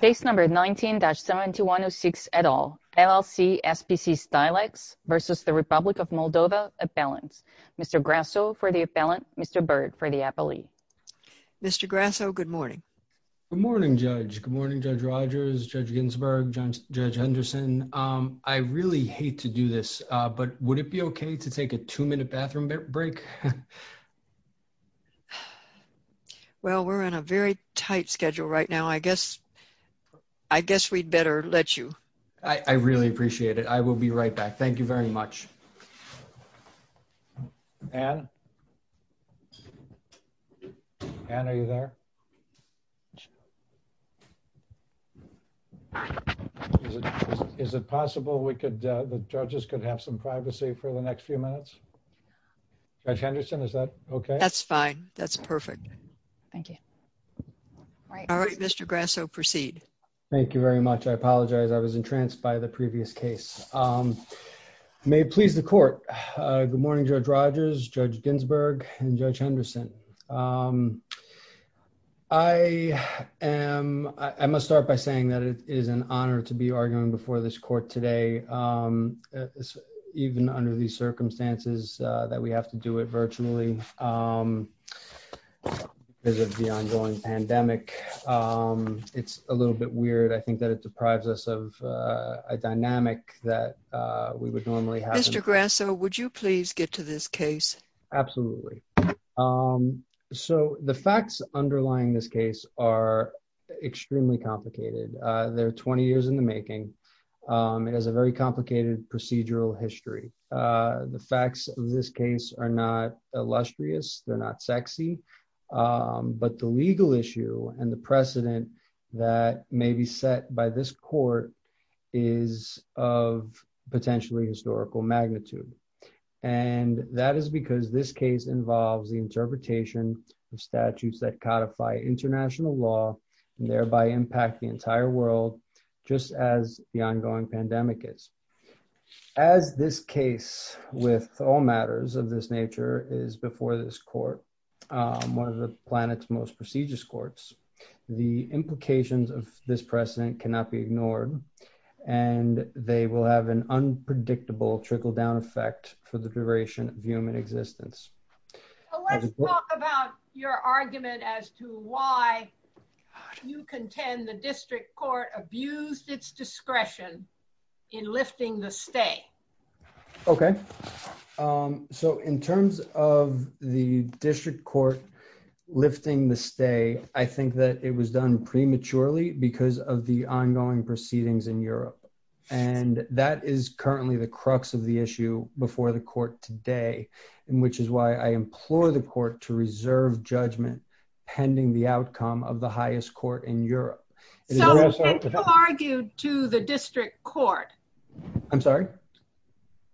Mr. Grasso for the appellant Mr. Byrd for the appellee. Mr. Grasso, good morning. Good morning, Judge. Good morning, Judge Rogers, Judge Ginsburg, Judge Henderson. I really hate to do this, but would it be okay to take a two-minute bathroom break? Very tight schedule right now. I guess we'd better let you. I really appreciate it. I will be right back. Thank you very much. Ann? Ann, are you there? Is it possible the judges could have some privacy for the next few minutes? Judge Henderson, is that okay? That's fine. That's perfect. Thank you. All right, Mr. Grasso, proceed. Thank you very much. I apologize. I was entranced by the previous case. May it please the court. Good morning, Judge Rogers, Judge Ginsburg, and Judge Henderson. I must start by saying that it is an honor to be arguing before this circumstances that we have to do it virtually because of the ongoing pandemic. It's a little bit weird. I think that it deprives us of a dynamic that we would normally have. Mr. Grasso, would you please get to this case? Absolutely. The facts underlying this case are extremely complicated. There are 20 years in the making. It has a very complicated procedural history. The facts of this case are not illustrious. They're not sexy. But the legal issue and the precedent that may be set by this court is of potentially historical magnitude. That is because this case involves the interpretation of statutes that codify international law and thereby impact the entire world, just as the ongoing pandemic is. As this case, with all matters of this nature, is before this court, one of the planet's most prestigious courts, the implications of this precedent cannot be ignored. And they will have an unpredictable trickle-down effect for the duration of human existence. Let's talk about your argument as to why you contend the district court abused its discretion in lifting the stay. Okay. So in terms of the district court lifting the stay, I think that it was done prematurely because of the ongoing proceedings in Europe. And that is currently the crux of the issue before the court today, which is why I implore the court to reserve judgment pending the outcome of the highest court in Europe. So when you argued to the district court... I'm sorry?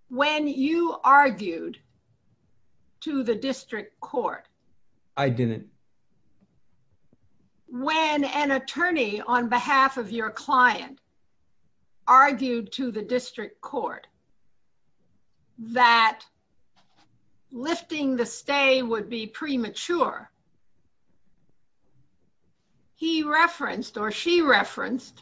When you argued to the district court... I didn't. When an attorney on behalf of your client argued to the district court, that lifting the stay would be premature, he referenced or she referenced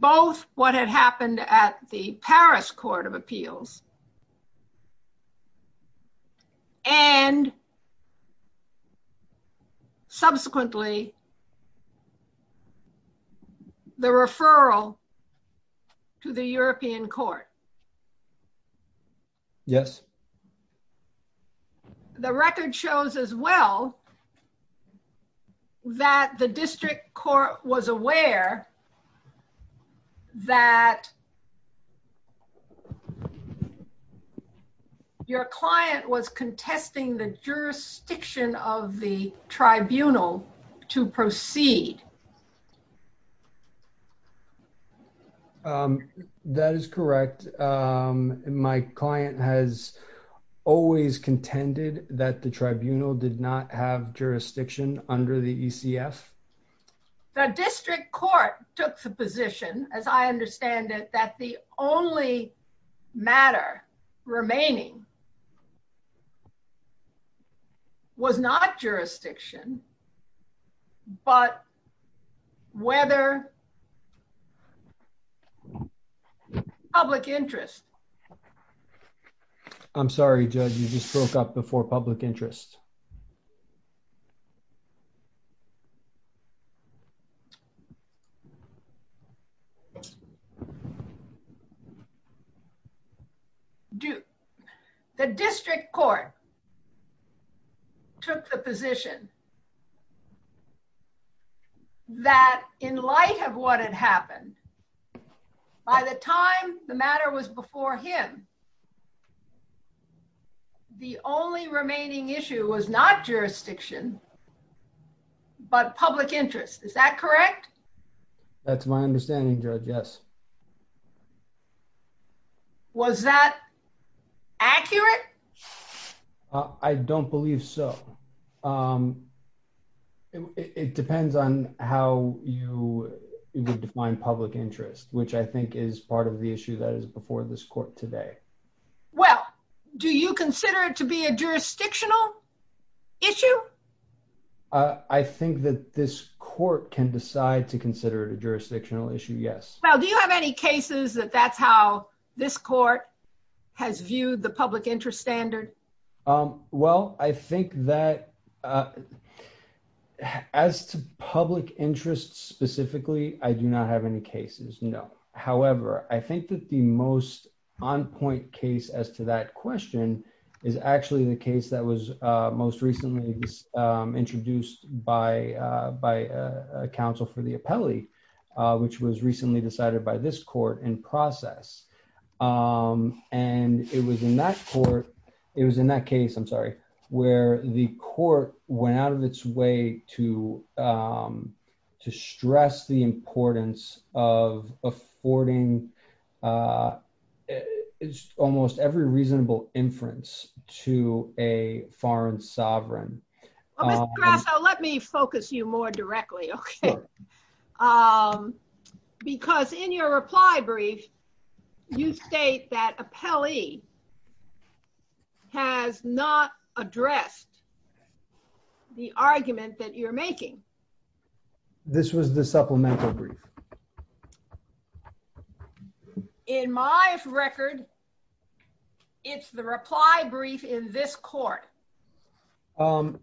both what had happened at the Paris Court of Appeals and subsequently the referral to the European Court. Yes. The record shows as well that the district court was aware that the tribunal did not have jurisdiction under the ECF. Your client was contesting the jurisdiction of the tribunal to proceed. That is correct. My client has always contended that the tribunal did not have jurisdiction under the ECF. The district court took the position, as I understand it, that the only matter remaining was not jurisdiction, but whether public interest. I'm sorry, Judge, you just broke up before public interest. The district court took the position that in light of what had happened, by the time the matter was before him, the only remaining issue was not jurisdiction, but public interest. Is that correct? That's my understanding, Judge, yes. Was that accurate? I don't believe so. It depends on how you define public interest, which I think is part of the question. Do you consider it to be a jurisdictional issue? I think that this court can decide to consider it a jurisdictional issue, yes. Well, do you have any cases that that's how this court has viewed the public interest standard? Well, I think that as to public interest specifically, I do not have any cases, no. However, I think that the most on-point case as to that question is actually the case that was most recently introduced by a counsel for the appellee, which was recently decided by this court in process. It was in that case where the court went out of its way to stress the importance of affording almost every reasonable inference to a foreign sovereign. Well, Mr. Grasso, let me focus you more directly, okay? Because in your reply brief, you state that appellee has not addressed the argument that you're making. This was the supplemental brief. In my record, it's the reply brief in this court.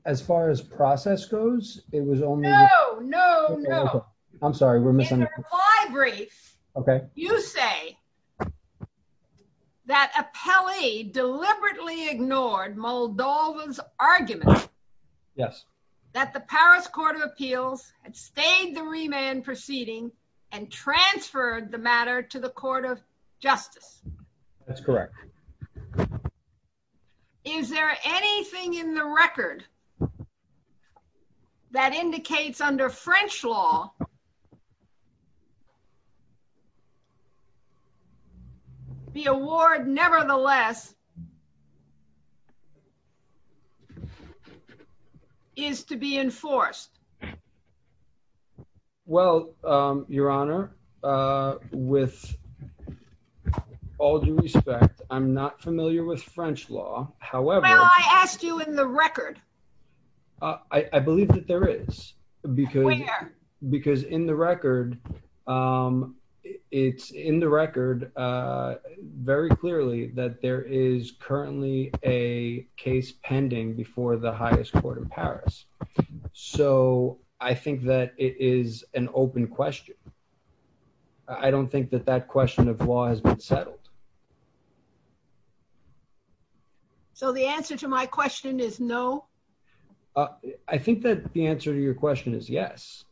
As far as process goes, it was only- No, no, no. I'm sorry, we're misunderstanding. In the reply brief, you say that appellee deliberately ignored Moldova's argument that the Paris Court of Appeals had stayed the remand proceeding and transferred the matter to the Court of Justice. That's correct. Is there anything in the record that indicates under French law that the award nevertheless is to be enforced? Well, Your Honor, with all due respect, I'm not familiar with French law. However- Well, I asked you in the record. I believe that there is. Where? Because in the record, it's in the record very clearly that there is currently a case pending before the highest court in Paris. So I think that it is an open question. I don't think that that question of law has been settled. So the answer to my question is no? I think that the answer to your question is yes.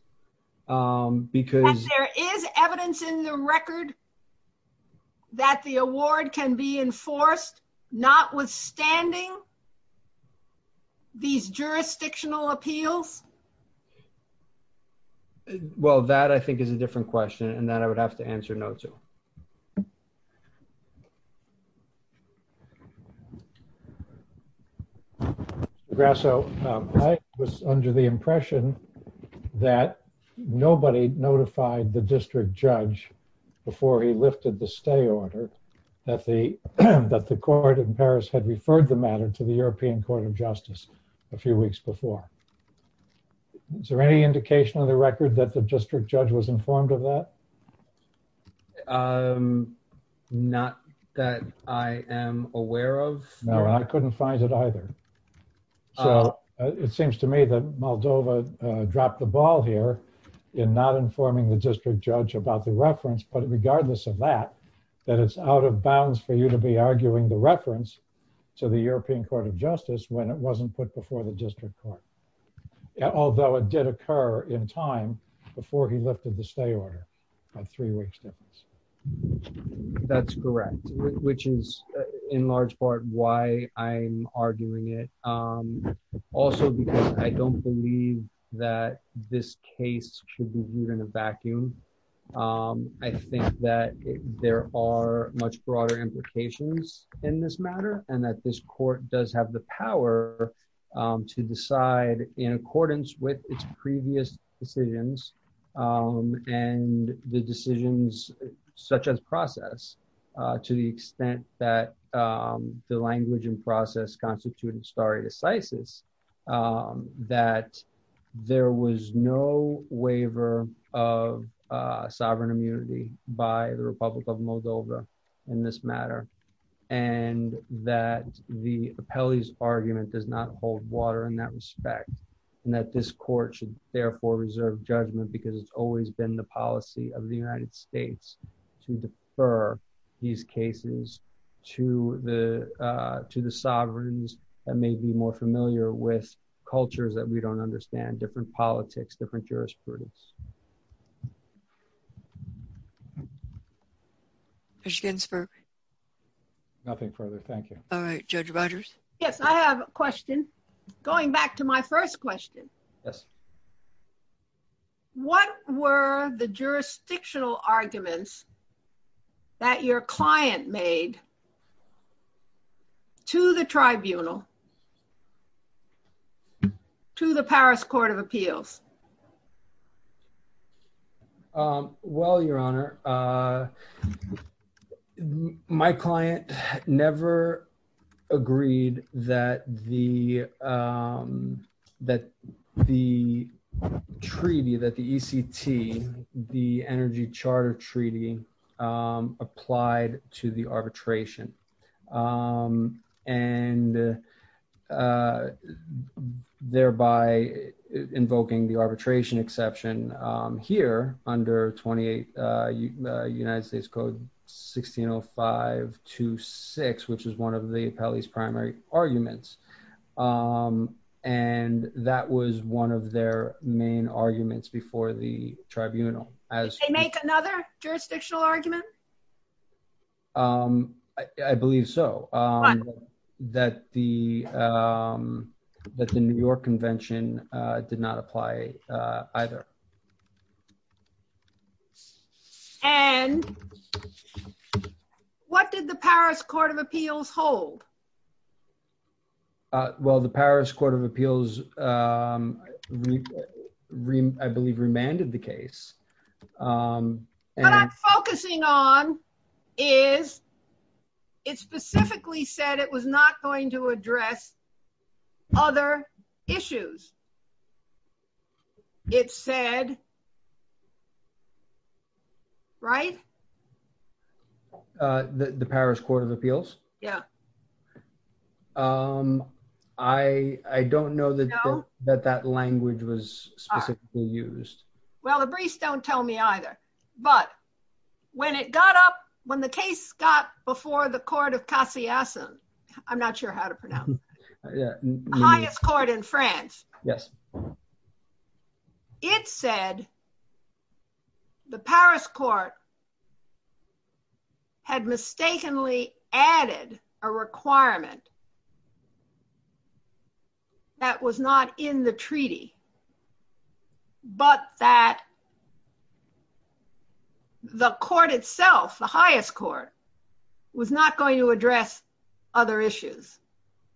Yes, there is evidence in the record that the award can be enforced, notwithstanding these jurisdictional appeals. Well, that I think is a different question and that I would have to answer no to. Mr. Grasso, I was under the impression that nobody notified the district judge before he lifted the stay order that the court in Paris had referred the matter to the European Court of Justice a few weeks before. Is there any indication in the record that the district judge was informed of that? Not that I am aware of. No, I couldn't find it either. So it seems to me that Moldova dropped the ball here in not informing the district judge about the reference. But regardless of that, that it's out of bounds for you to be arguing the reference to the European Court of Justice when it wasn't put before the district court. Although it did occur in time before he lifted the stay order by three weeks. That's correct, which is in large part why I'm arguing it. Also, because I don't believe that this case should be viewed in a vacuum. I think that there are much broader implications in this matter and that this court does have the power to decide in accordance with its previous decisions. And the decisions such as process to the extent that the language and process constituted stare decisis that there was no waiver of sovereign immunity by the Republic of Moldova in this matter. And that the appellee's argument does not hold water in that respect. And that this court therefore reserve judgment because it's always been the policy of the United States to defer these cases to the sovereigns that may be more familiar with cultures that we don't understand, different politics, different jurisprudence. Judge Ginsburg. Nothing further. Thank you. All right, Judge Rogers. Yes, I have a question. Going back to my first question. Yes. What were the jurisdictional arguments that your client made to the tribunal, to the Paris Court of Appeals? Well, Your Honor, my client never agreed that the treaty, that the ECT, the Energy Charter Treaty, applied to the arbitration. And thereby invoking the arbitration exception here under 28 United States Code 1605-2-6, which is one of the appellee's primary arguments. And that was one of their main arguments before the tribunal. Did they make another jurisdictional argument? I believe so, that the New York Convention did not apply either. And what did the Paris Court of Appeals hold? Well, the Paris Court of Appeals, I believe, remanded the case. What I'm focusing on is, it specifically said it was not going to address other issues. It said, right? The Paris Court of Appeals? Yeah. I don't know that that language was specifically used. Well, the briefs don't tell me either. But when it got up, when the case got before the Court of Cassiasson, I'm not sure how to pronounce it, the highest court in France. Yes. It said the Paris Court had mistakenly added a requirement that was not in the treaty, but that the court itself, the highest court, was not going to address other issues.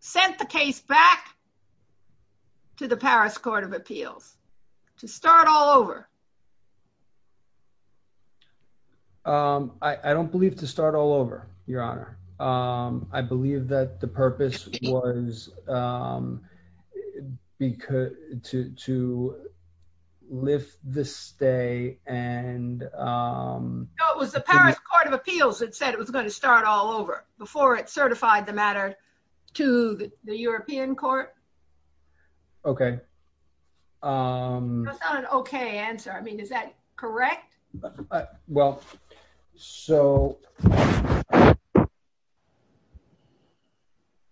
Sent the case back to the Paris Court of Appeals, to start all over. I don't believe to start all over, Your Honor. I believe that the Paris Court of Appeals was to lift the stay and... No, it was the Paris Court of Appeals that said it was going to start all over, before it certified the matter to the European Court. Okay. That's not an okay answer. I mean, is that correct? Well, so...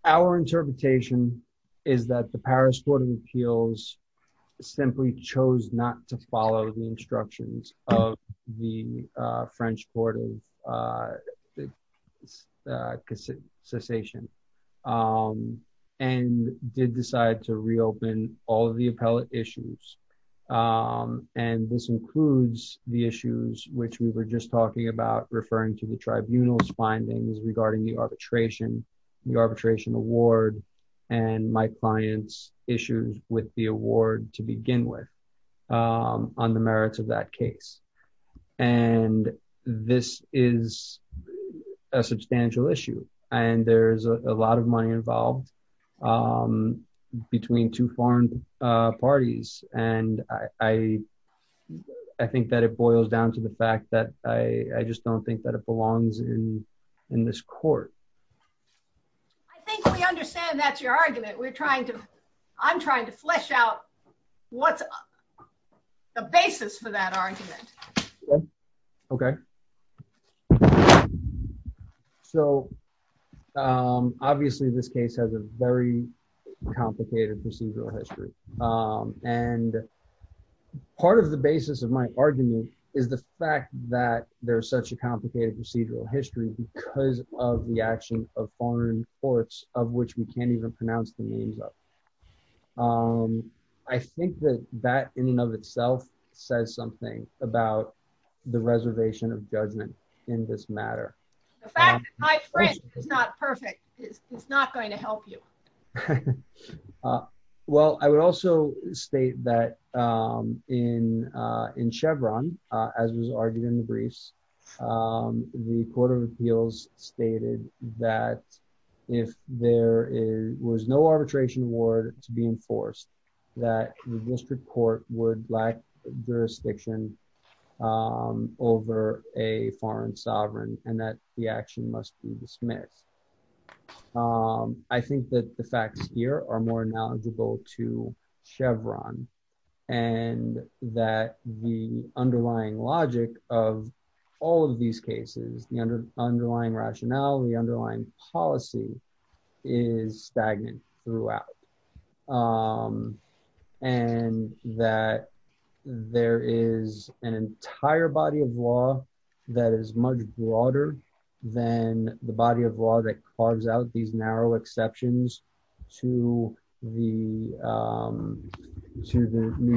Our interpretation is that the Paris Court of Appeals simply chose not to follow the instructions of the French Court of Cassiasson, and did decide to reopen all of the appellate issues. And this includes the issues which we were just talking about, referring to the tribunal's findings regarding the arbitration, the arbitration award, and my client's issues with the award to begin with, on the merits of that case. And this is a substantial issue, and there's a lot of money involved between two foreign parties. And I think that it boils down to the fact that I just don't think that it belongs in this court. I think we understand that's your argument. I'm trying to flesh out what's the basis for that argument. Okay. So, obviously, this case has a very complicated procedural history. And part of the basis of my argument is the fact that there's such a complicated procedural history because of the action of foreign courts, of which we can't even pronounce the names of. I think that that in and of itself says something about the reservation of the judgment in this matter. The fact that my French is not perfect is not going to help you. Well, I would also state that in Chevron, as was argued in the briefs, the Court of Appeals stated that if there was no arbitration award to be enforced, that the district court would lack jurisdiction over a foreign sovereign and that the action must be dismissed. I think that the facts here are more knowledgeable to Chevron and that the underlying logic of all of these cases, the underlying rationale, the underlying policy is stagnant throughout. And that there is an entire body of law that is much broader than the body of law that carves out these narrow exceptions to the New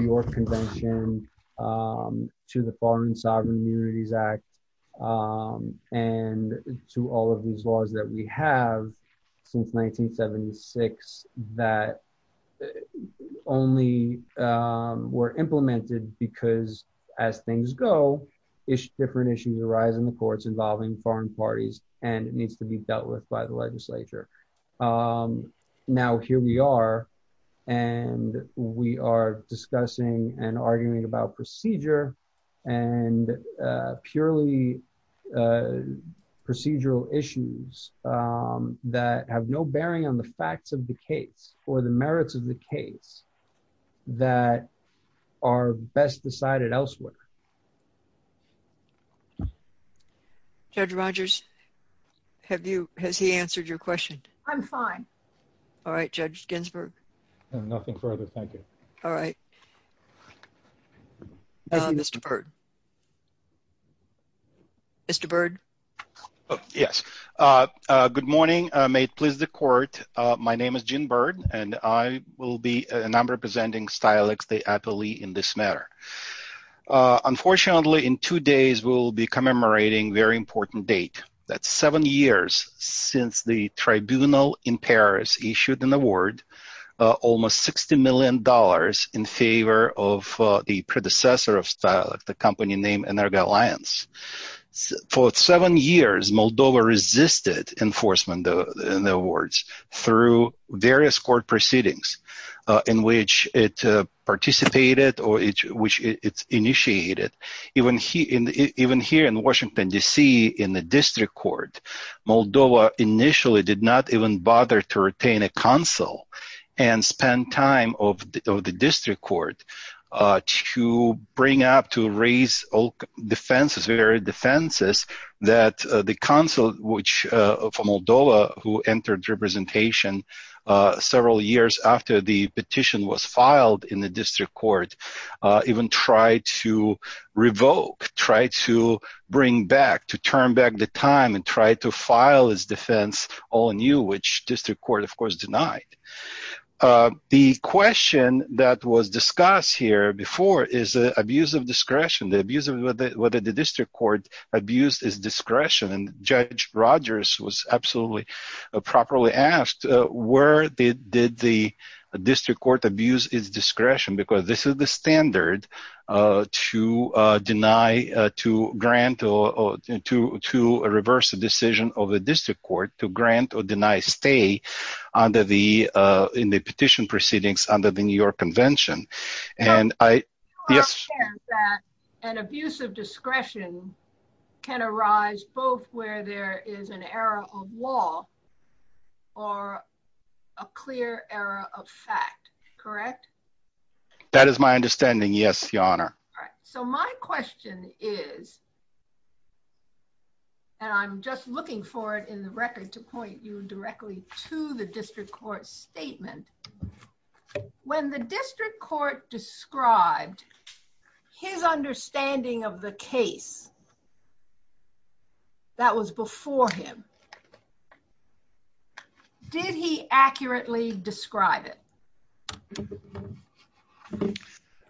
York Convention, to the Foreign Sovereign only were implemented because, as things go, different issues arise in the courts involving foreign parties, and it needs to be dealt with by the legislature. Now, here we are, and we are discussing and arguing about procedure and purely procedural issues that have no bearing on the facts of the case or the merits of the case. That are best decided elsewhere. Judge Rogers, has he answered your question? I'm fine. All right, Judge Ginsburg. Nothing further. Thank you. All right. Mr. Byrd. Mr. Byrd. Yes. Good morning. May it please the Court. My name is Gene Byrd, and I will be, and I'm representing STILEX, the appellee in this matter. Unfortunately, in two days, we'll be commemorating a very important date. That's seven years since the tribunal in Paris issued an award, almost $60 million in favor of the predecessor of STILEX, the company named Energo Alliance. For seven years, Moldova resisted enforcement of the awards through various court proceedings in which it participated or which it initiated. Even here in Washington, D.C., in the district court, Moldova initially did not even bother to retain a counsel and spend time of the district court to bring up, to raise defenses, various defenses that the counsel, which from Moldova, who entered representation several years after the petition was filed in the district court, even tried to revoke, tried to bring back, to turn back the time and try to file his defense all anew, which district court, of course, denied. The question that was discussed here before is the abuse of discretion, the abuse of whether the district court abused his discretion, and Judge Rogers was absolutely properly asked, where did the district court abuse his discretion? Because this is the standard to deny, to grant or to reverse a decision of the district court to grant or deny stay under the, in the petition proceedings under the New York Convention. Abuse of discretion can arise both where there is an error of law or a clear error of fact, correct? That is my understanding, yes, Your Honor. All right, so my question is, and I'm just looking for it in the record to point you directly to the district court statement. When the district court described his understanding of the case that was before him, did he accurately describe it?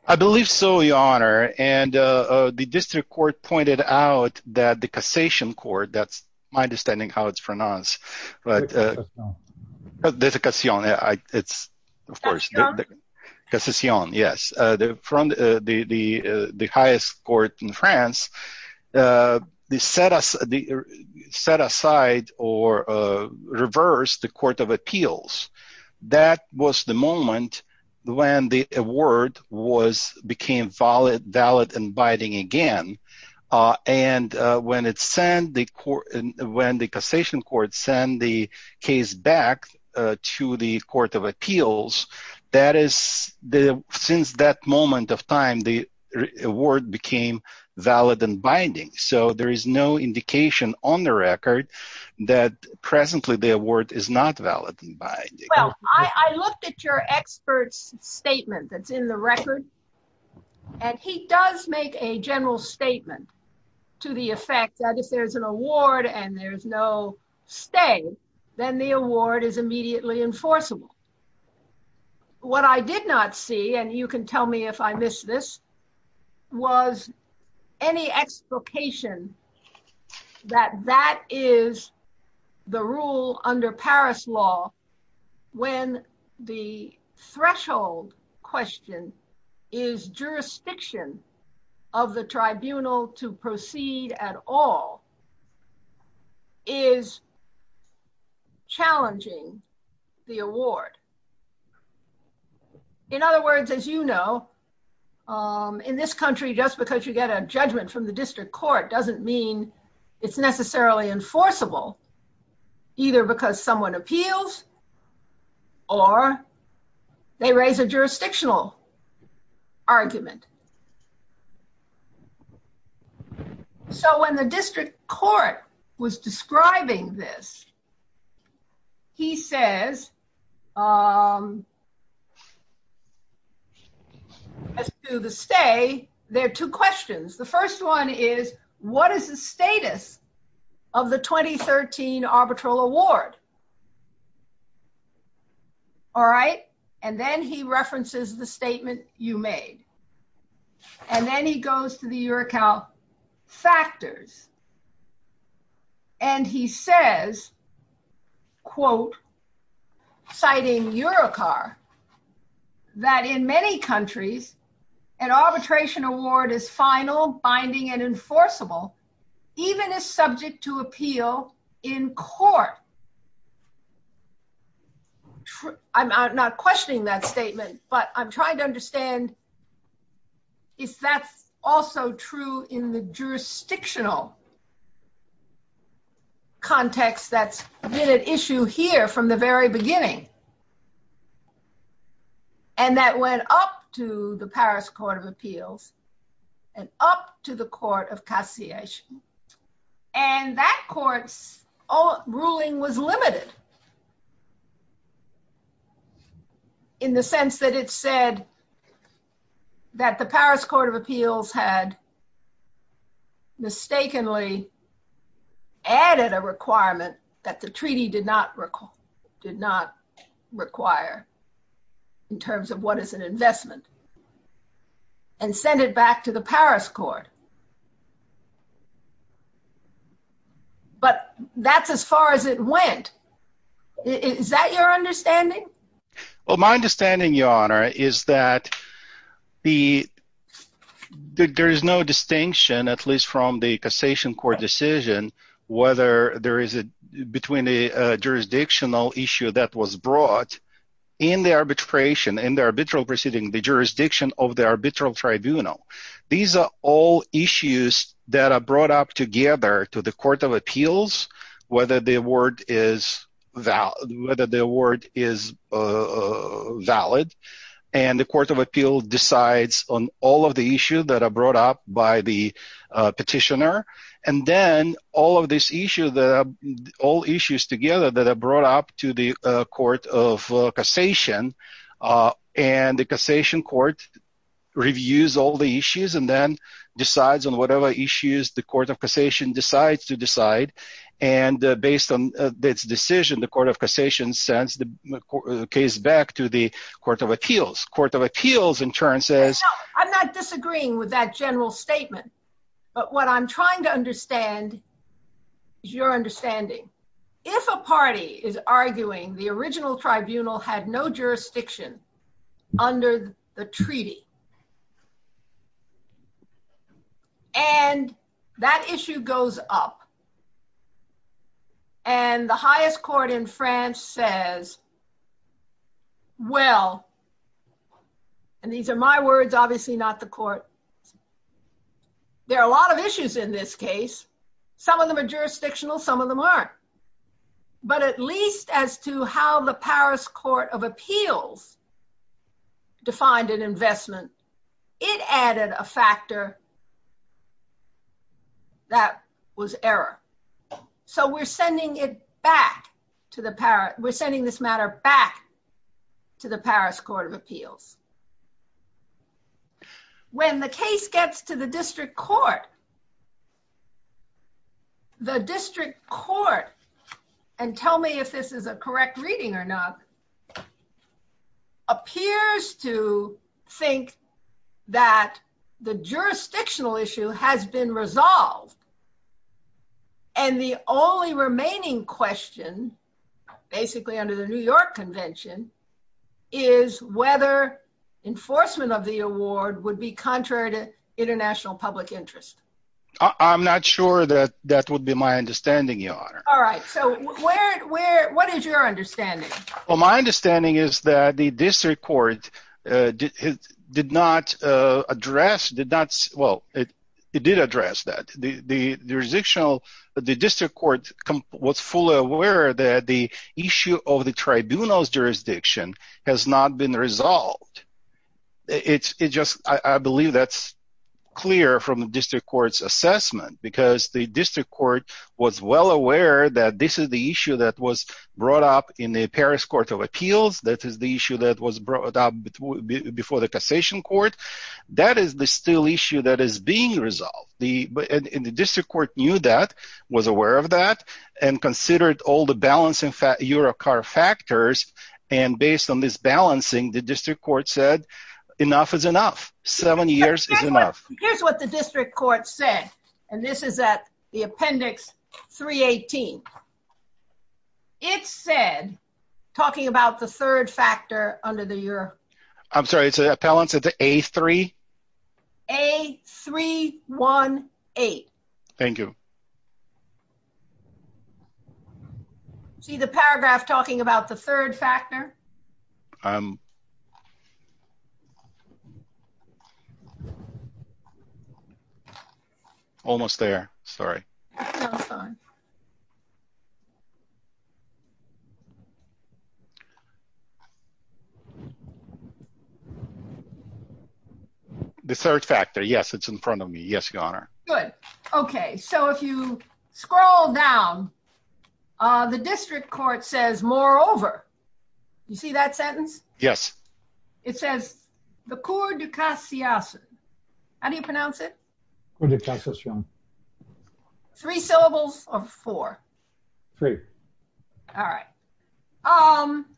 I believe so, Your Honor, and the district court pointed out that the Cassation Court, that's my understanding how it's pronounced, but the Cassation, it's of course, Cassation, yes, from the highest court in France, they set aside or reversed the court of appeals. That was the moment when the award was, became valid and binding again. And when it's sent, when the Cassation Court sent the case back to the court of appeals, that is the, since that moment of time, the award became valid and binding. So there is no indication on the record that presently the award is not valid and binding. I looked at your expert's statement that's in the record, and he does make a general statement to the effect that if there's an award and there's no stay, then the award is immediately enforceable. What I did not see, and you can tell me if I missed this, was any explication that that is the rule under Paris law when the threshold question is jurisdiction of the tribunal to proceed at all is challenging the award. In other words, as you know, in this country, just because you get a judgment from the district court doesn't mean it's necessarily enforceable, either because someone appeals or they raise a jurisdictional argument. So when the district court was describing this, he says, as to the stay, there are two questions. The first one is, what is the status of the 2013 arbitral award? All right. And then he references the statement you made. And then he goes to the URACAL factors. And he says, quote, citing URACAR, that in many countries, an arbitration award is final, binding, and enforceable, even if subject to appeal in court. I'm not questioning that statement, but I'm trying to understand if that's also true in the jurisdictional context that's been at issue here from the very beginning. And that went up to the Paris Court of Appeals and up to the Court of Cassiation. And that court's ruling was limited in the sense that it said that the Paris Court of Appeals had mistakenly added a requirement that the treaty did not require in terms of what is an investment in the court. And they had to undo it and send it back to the Paris Court. But that's as far as it went. Is that your understanding? Well, my understanding, Your Honor, is that there is no distinction, at least from the jurisdictional issue that was brought in the arbitration, in the arbitral proceeding, the jurisdiction of the arbitral tribunal. These are all issues that are brought up together to the Court of Appeals, whether the award is valid. And the Court of Appeals decides on all of the that are brought up to the Court of Cassation. And the Cassation Court reviews all the issues and then decides on whatever issues the Court of Cassation decides to decide. And based on this decision, the Court of Cassation sends the case back to the Court of Appeals. Court of Appeals, in turn, says... I'm not disagreeing with that general statement. But what I'm trying to is arguing the original tribunal had no jurisdiction under the treaty. And that issue goes up. And the highest court in France says, well, and these are my words, obviously not the court. There are a lot of issues in this case. Some of them are jurisdictional, some of them aren't. But at least as to how the Paris Court of Appeals defined an investment, it added a factor that was error. So we're sending this matter back to the Paris Court of Appeals. When the case gets to the district court, the district court, and tell me if this is a correct reading or not, appears to think that the jurisdictional issue has been resolved. And the only remaining question, basically under the New York Convention, is whether enforcement of the award would be contrary to international public interest. I'm not sure that that would be my understanding, Your Honor. All right. So what is your understanding? Well, my understanding is that the district court did not address, well, it did address that. The district court was fully aware that the it's just, I believe that's clear from the district court's assessment. Because the district court was well aware that this is the issue that was brought up in the Paris Court of Appeals. That is the issue that was brought up before the Cassation Court. That is the still issue that is being resolved. And the district court knew that, was aware of that, and considered all the Eurocar factors. And based on this balancing, the district court said, enough is enough. Seven years is enough. Here's what the district court said, and this is at the Appendix 318. It said, talking about the third factor under the Euro... I'm sorry, it's a balance of the A3? A318. Thank you. See the paragraph talking about the third factor? Almost there. Sorry. The third factor. Yes, it's in front of me. Yes, Your Honor. Good. Okay, so if you scroll down, the district court says, moreover, you see that sentence? Yes. It says, the Court de Cassation. How do you pronounce it? All right.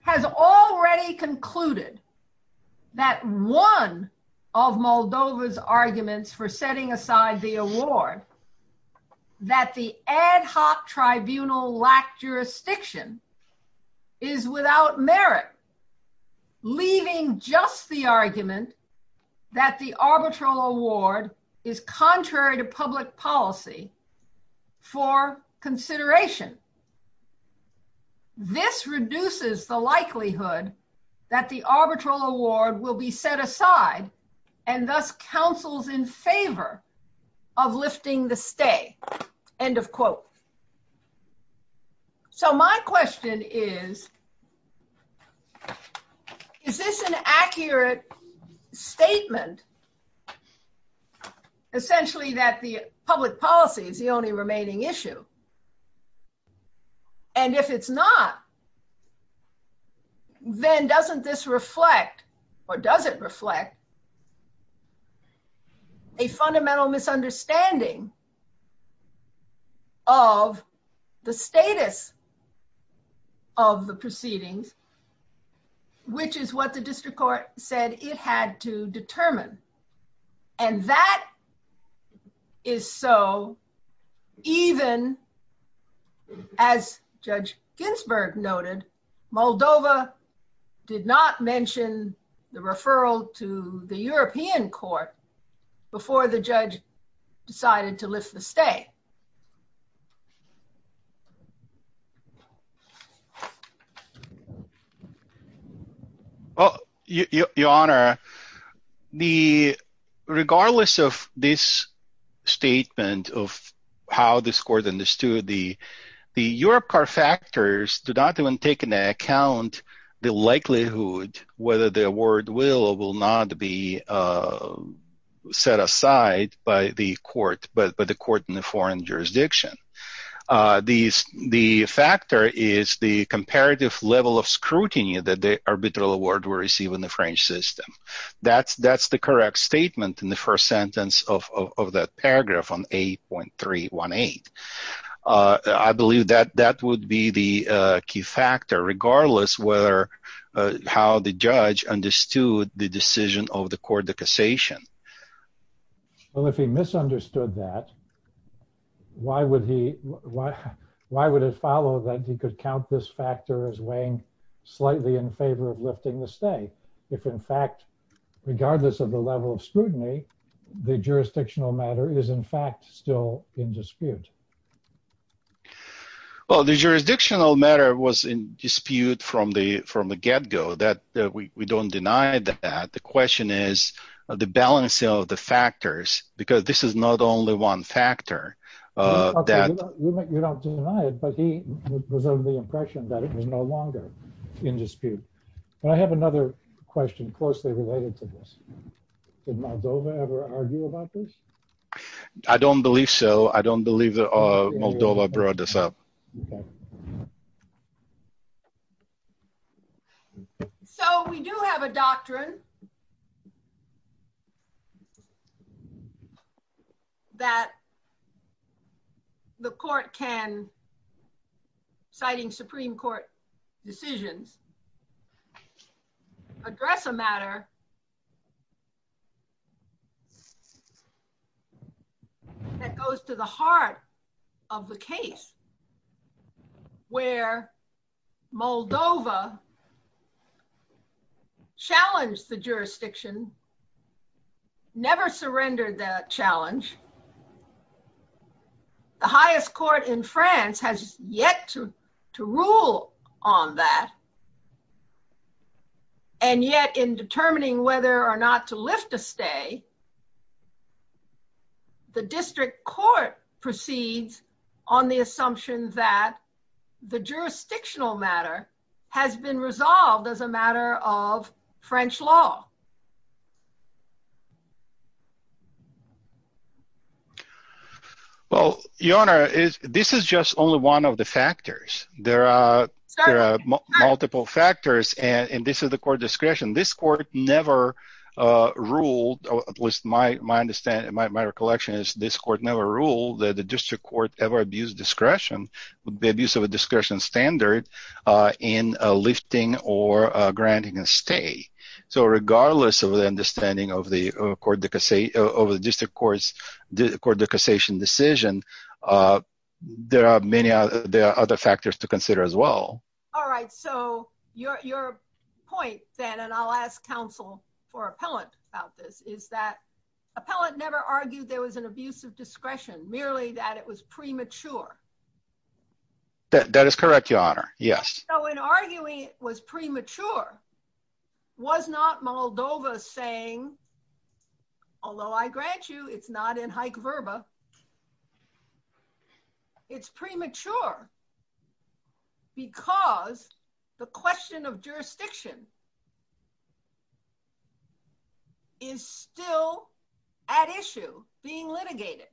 Has already concluded that one of Moldova's arguments for setting aside the award, that the ad hoc tribunal lack jurisdiction, is without merit, leaving just the argument that the arbitral award is contrary to public policy for consideration. This reduces the likelihood that the arbitral award will be set aside, and thus counsels in favor of lifting the stay. End of quote. So my question is, is this an accurate statement, essentially, that the public policy is the only remaining issue? And if it's not, then doesn't this reflect, or does it reflect, a fundamental misunderstanding of the status of the proceedings, which is what the district court said it had to determine? And that is so, even as Judge Ginsburg noted, Moldova did not mention the referral to the European court before the judge decided to lift the stay. Well, Your Honor, the, regardless of this statement of how this court understood the, the Europe car factors do not even take into account the likelihood whether the award will not be set aside by the court, but the court in the foreign jurisdiction. The factor is the comparative level of scrutiny that the arbitral award will receive in the French system. That's the correct statement in the first sentence of that paragraph on 8.318. I believe that that would be the key factor, regardless whether, how the judge understood the decision of the court of cassation. Well, if he misunderstood that, why would he, why, why would it follow that he could count this factor as weighing slightly in favor of lifting the stay, if in fact, regardless of the level of scrutiny, the jurisdictional matter is in fact still in favor? Well, the jurisdictional matter was in dispute from the, from the get-go that we, we don't deny that. The question is the balancing of the factors, because this is not only one factor. You don't deny it, but he was under the impression that it was no longer in dispute. And I have another question closely related to this. Did Moldova ever argue about this? I don't believe so. I don't believe that Moldova brought this up. So we do have a doctrine that the court can, citing Supreme Court decisions, address a matter that goes to the heart of the case where Moldova challenged the jurisdiction, never surrendered that challenge. The highest court in France has yet to, to rule on that. And yet in determining whether or not to lift a stay, the district court proceeds on the assumption that the jurisdictional matter has been resolved as a matter of French law. Well, Your Honor, this is just only one of the factors. There are multiple factors, and this is the court discretion. This court never ruled, at least my understanding, my recollection is this court never ruled that the district court ever abused discretion, would be abuse of a discretion standard in lifting or granting a stay. So regardless of the understanding of the court, of the district court's court decassation decision, there are many other, there are other factors to consider as well. All right. So your point then, and I'll ask counsel for appellant about this, is that appellant never argued there was an abuse of discretion, merely that it was premature. That is correct, Your Honor. Yes. So in arguing it was premature, was not Moldova saying, although I grant you it's not in haec verba, it's premature because the question of jurisdiction is still at issue being litigated.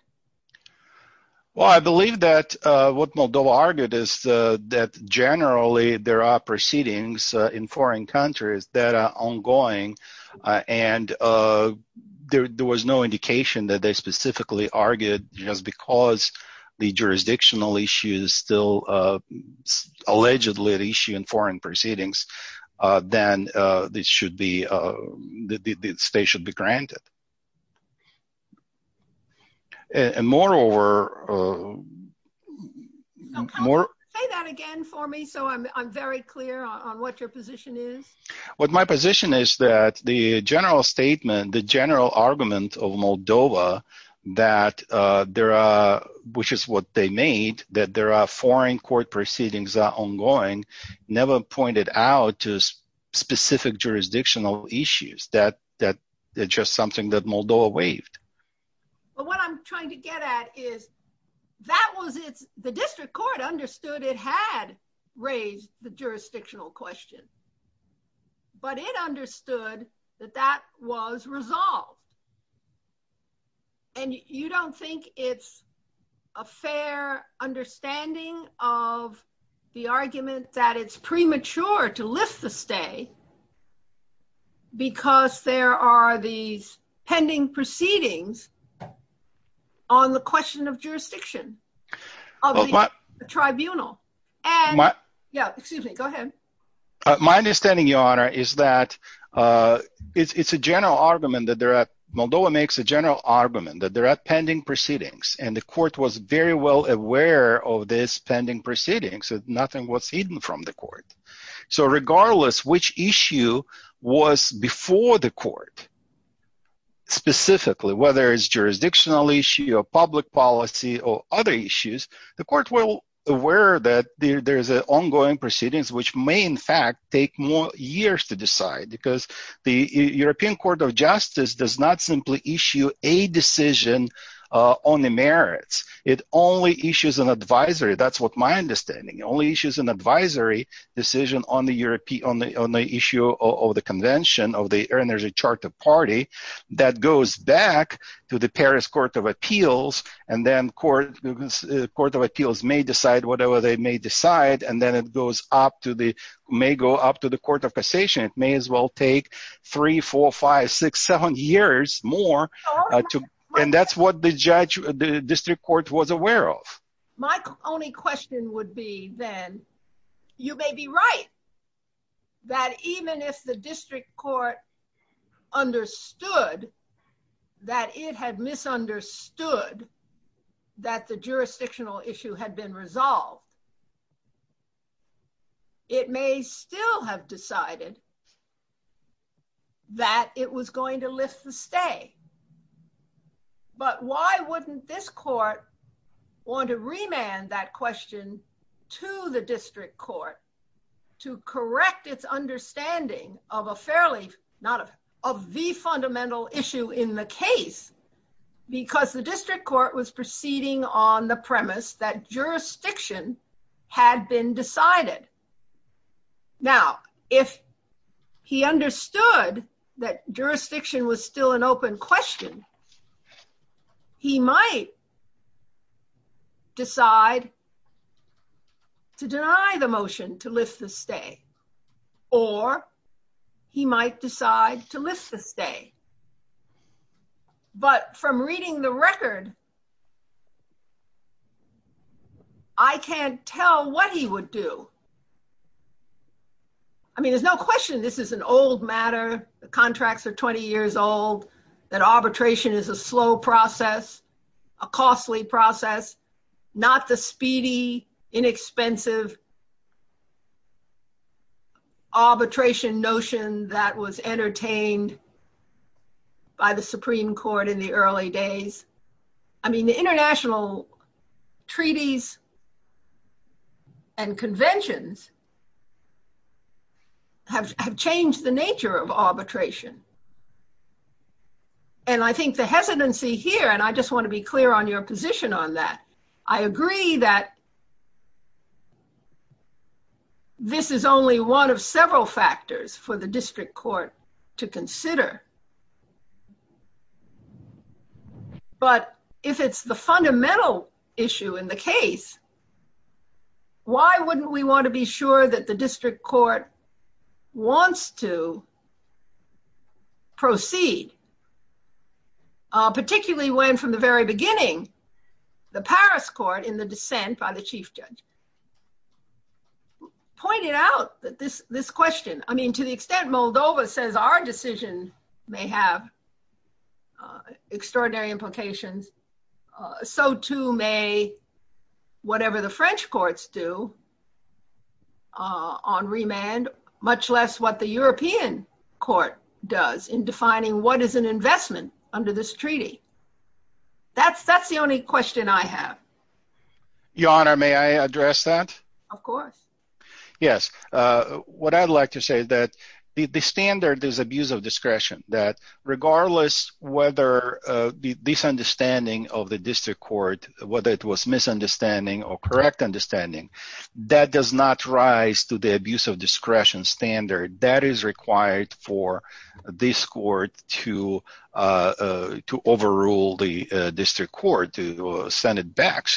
Well, I believe that what Moldova argued is that generally there are proceedings in foreign countries that are ongoing, and there was no indication that they specifically argued just because the jurisdictional issue is still allegedly at issue in foreign proceedings, then this should be, the stay should be granted. And moreover, So can you say that again for me so I'm very clear on what your position is? What my position is that the general statement, the general argument of Moldova, that there are, which is what they made, that there are foreign court proceedings ongoing, never pointed out to specific jurisdictional issues, that it's just something that Moldova waived. But what I'm trying to get at is that was it's the district court understood it had raised the jurisdictional question, but it understood that that was resolved. And you don't think it's a fair understanding of the argument that it's premature to lift the stay because there are these pending proceedings on the question of jurisdiction of the tribunal. And, yeah, excuse me, go ahead. My understanding, Your Honor, is that it's a general argument that they're at, Moldova makes a general argument that they're at pending proceedings, and the court was very well aware of this pending proceedings, that nothing was hidden from the court. So regardless which issue was before the court, specifically, whether it's jurisdictional issue or public policy or other issues, the court well aware that there's an ongoing proceedings, which may in fact take more years to decide, because the European Court of Justice does not simply issue a decision on the merits. It only issues an advisory, that's what my understanding, only issues an advisory decision on the issue of the convention of the Energy Charter Party that goes back to the Paris Court of Appeals, and then the Court of Appeals may decide whatever they may decide, and then it may go up to the Court of Cassation. It may as well take three, four, five, six, seven years more, and that's what the district court was aware of. My only question would be then, you may be right, that even if the district court understood that it had misunderstood that the jurisdictional issue had been resolved, it may still have decided that it was going to lift the stay. But why wouldn't this court want to remand that question to the district court to correct its understanding of a fairly, not a, of the fundamental issue in the case, because the district court was proceeding on the premise that jurisdiction had been decided. Now, if he understood that jurisdiction was still an open question, he might decide to deny the motion to lift the stay, or he might decide to lift the stay. But from reading the record, I can't tell what he would do. I mean, there's no question this is an old matter. The contracts are 20 years old, that arbitration is a slow process, a costly process, not the speedy, inexpensive arbitration notion that was entertained by the Supreme Court in the early days. I mean, the international treaties and conventions have changed the nature of arbitration. And I think the hesitancy here, and I just want to be clear on your position on that, I agree that this is only one of several factors for the district court to consider. But if it's the fundamental issue in the case, why wouldn't we want to be sure that the district court wants to proceed, particularly when from the very beginning, the Paris court in the dissent by the chief judge pointed out that this question, I mean, to the extent Moldova says our decision may have extraordinary implications, so too may whatever the French courts do on remand, much less what the European court does in defining what is an investment under this treaty. That's the only question I have. Your Honor, may I address that? Of course. Yes, what I'd like to say is that the standard is abuse of discretion, that regardless whether the misunderstanding of the district court, whether it was misunderstanding or correct understanding, that does not rise to the abuse of discretion standard that is required for this court to overrule the district court, to send it back.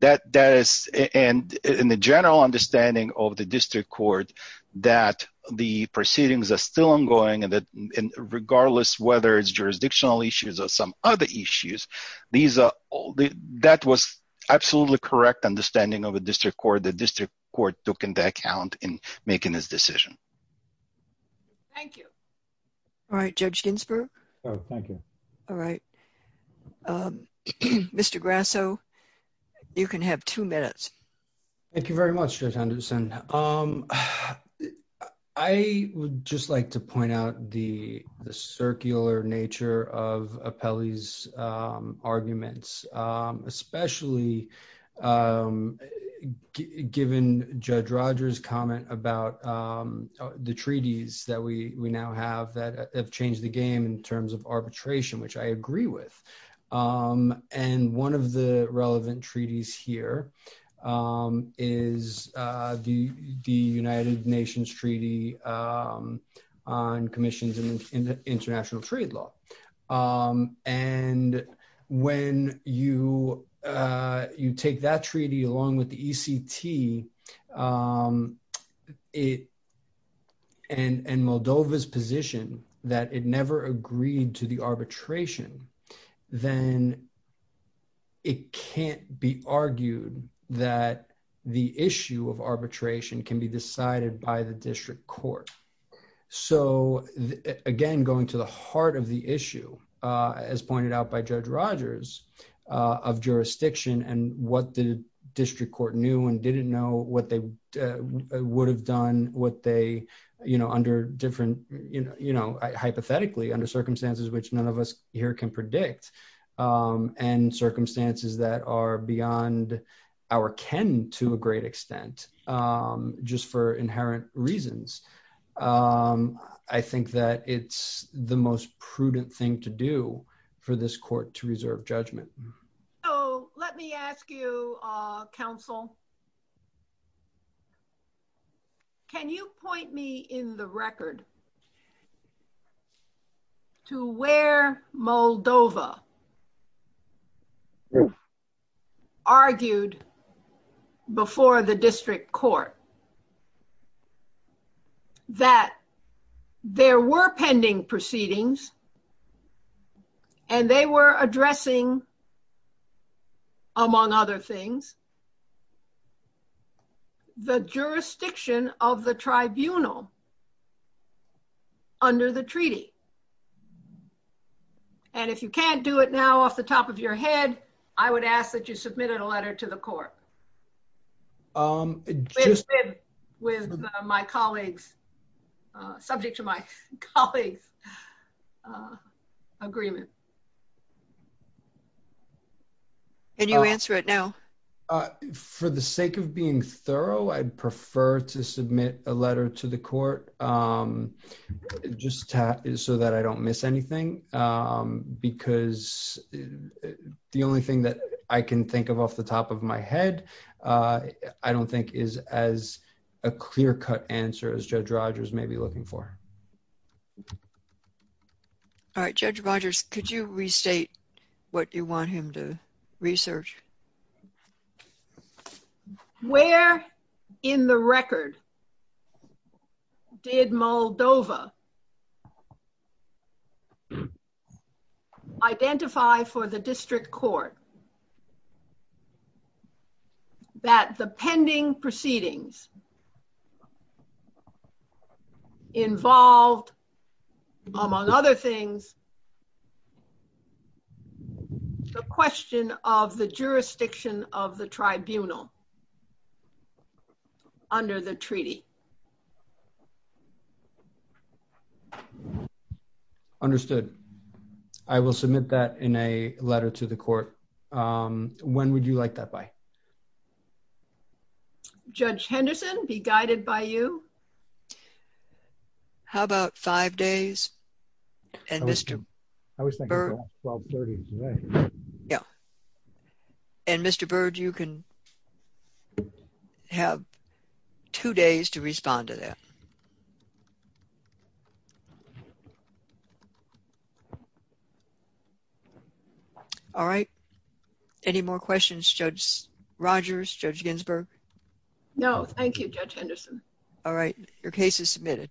That is in the general understanding of the district court that the proceedings are still ongoing and that regardless whether it's jurisdictional issues or some other issues, that was absolutely correct understanding of the district court. The district court took into account in making this decision. Thank you. All right, Judge Ginsburg. Oh, thank you. All right. Mr. Grasso, you can have two minutes. Thank you very much, Judge Anderson. I would just like to point out the circular nature of Apelli's arguments, especially given Judge Rogers' comment about the treaties that we now have that have changed the game in arbitration, which I agree with. One of the relevant treaties here is the United Nations Treaty on Commissions in International Trade Law. When you take that treaty along with the ECT treaty and Moldova's position that it never agreed to the arbitration, then it can't be argued that the issue of arbitration can be decided by the district court. So, again, going to the heart of the issue, as pointed out by Judge Rogers, of jurisdiction and what the district court knew and didn't know, what they would have done, what they, you know, under different, you know, hypothetically, under circumstances which none of us here can predict, and circumstances that are beyond our ken to a great extent, just for inherent reasons. I think that it's the most prudent thing to do for this court to reserve judgment. So, let me ask you, counsel, can you point me in the record to where Moldova argued before the district court that there were pending proceedings and they were addressing, among other things, the jurisdiction of the tribunal under the treaty? And if you can't do it now off the top of your head, I would ask that you submit a letter to the court. With my colleagues, subject to my colleagues' agreement. Can you answer it now? For the sake of being thorough, I'd prefer to submit a letter to the court, just so that I don't miss anything. Because the only thing that I can think of off the top of my head I don't think is as a clear-cut answer as Judge Rogers may be looking for. All right, Judge Rogers, could you restate what you want him to research? Where in the record did Moldova identify for the district court that the pending proceedings involved, among other things, the question of the jurisdiction of the tribunal under the treaty? Understood. I will submit that in a letter to the court. When would you like that by? Judge Henderson, be guided by you. How about five days? And Mr. Byrd? I was thinking about 1230 today. Yeah. And Mr. Byrd, you can have two days to respond to that. All right, any more questions, Judge Rogers, Judge Ginsburg? No, thank you, Judge Henderson. All right, your case is submitted.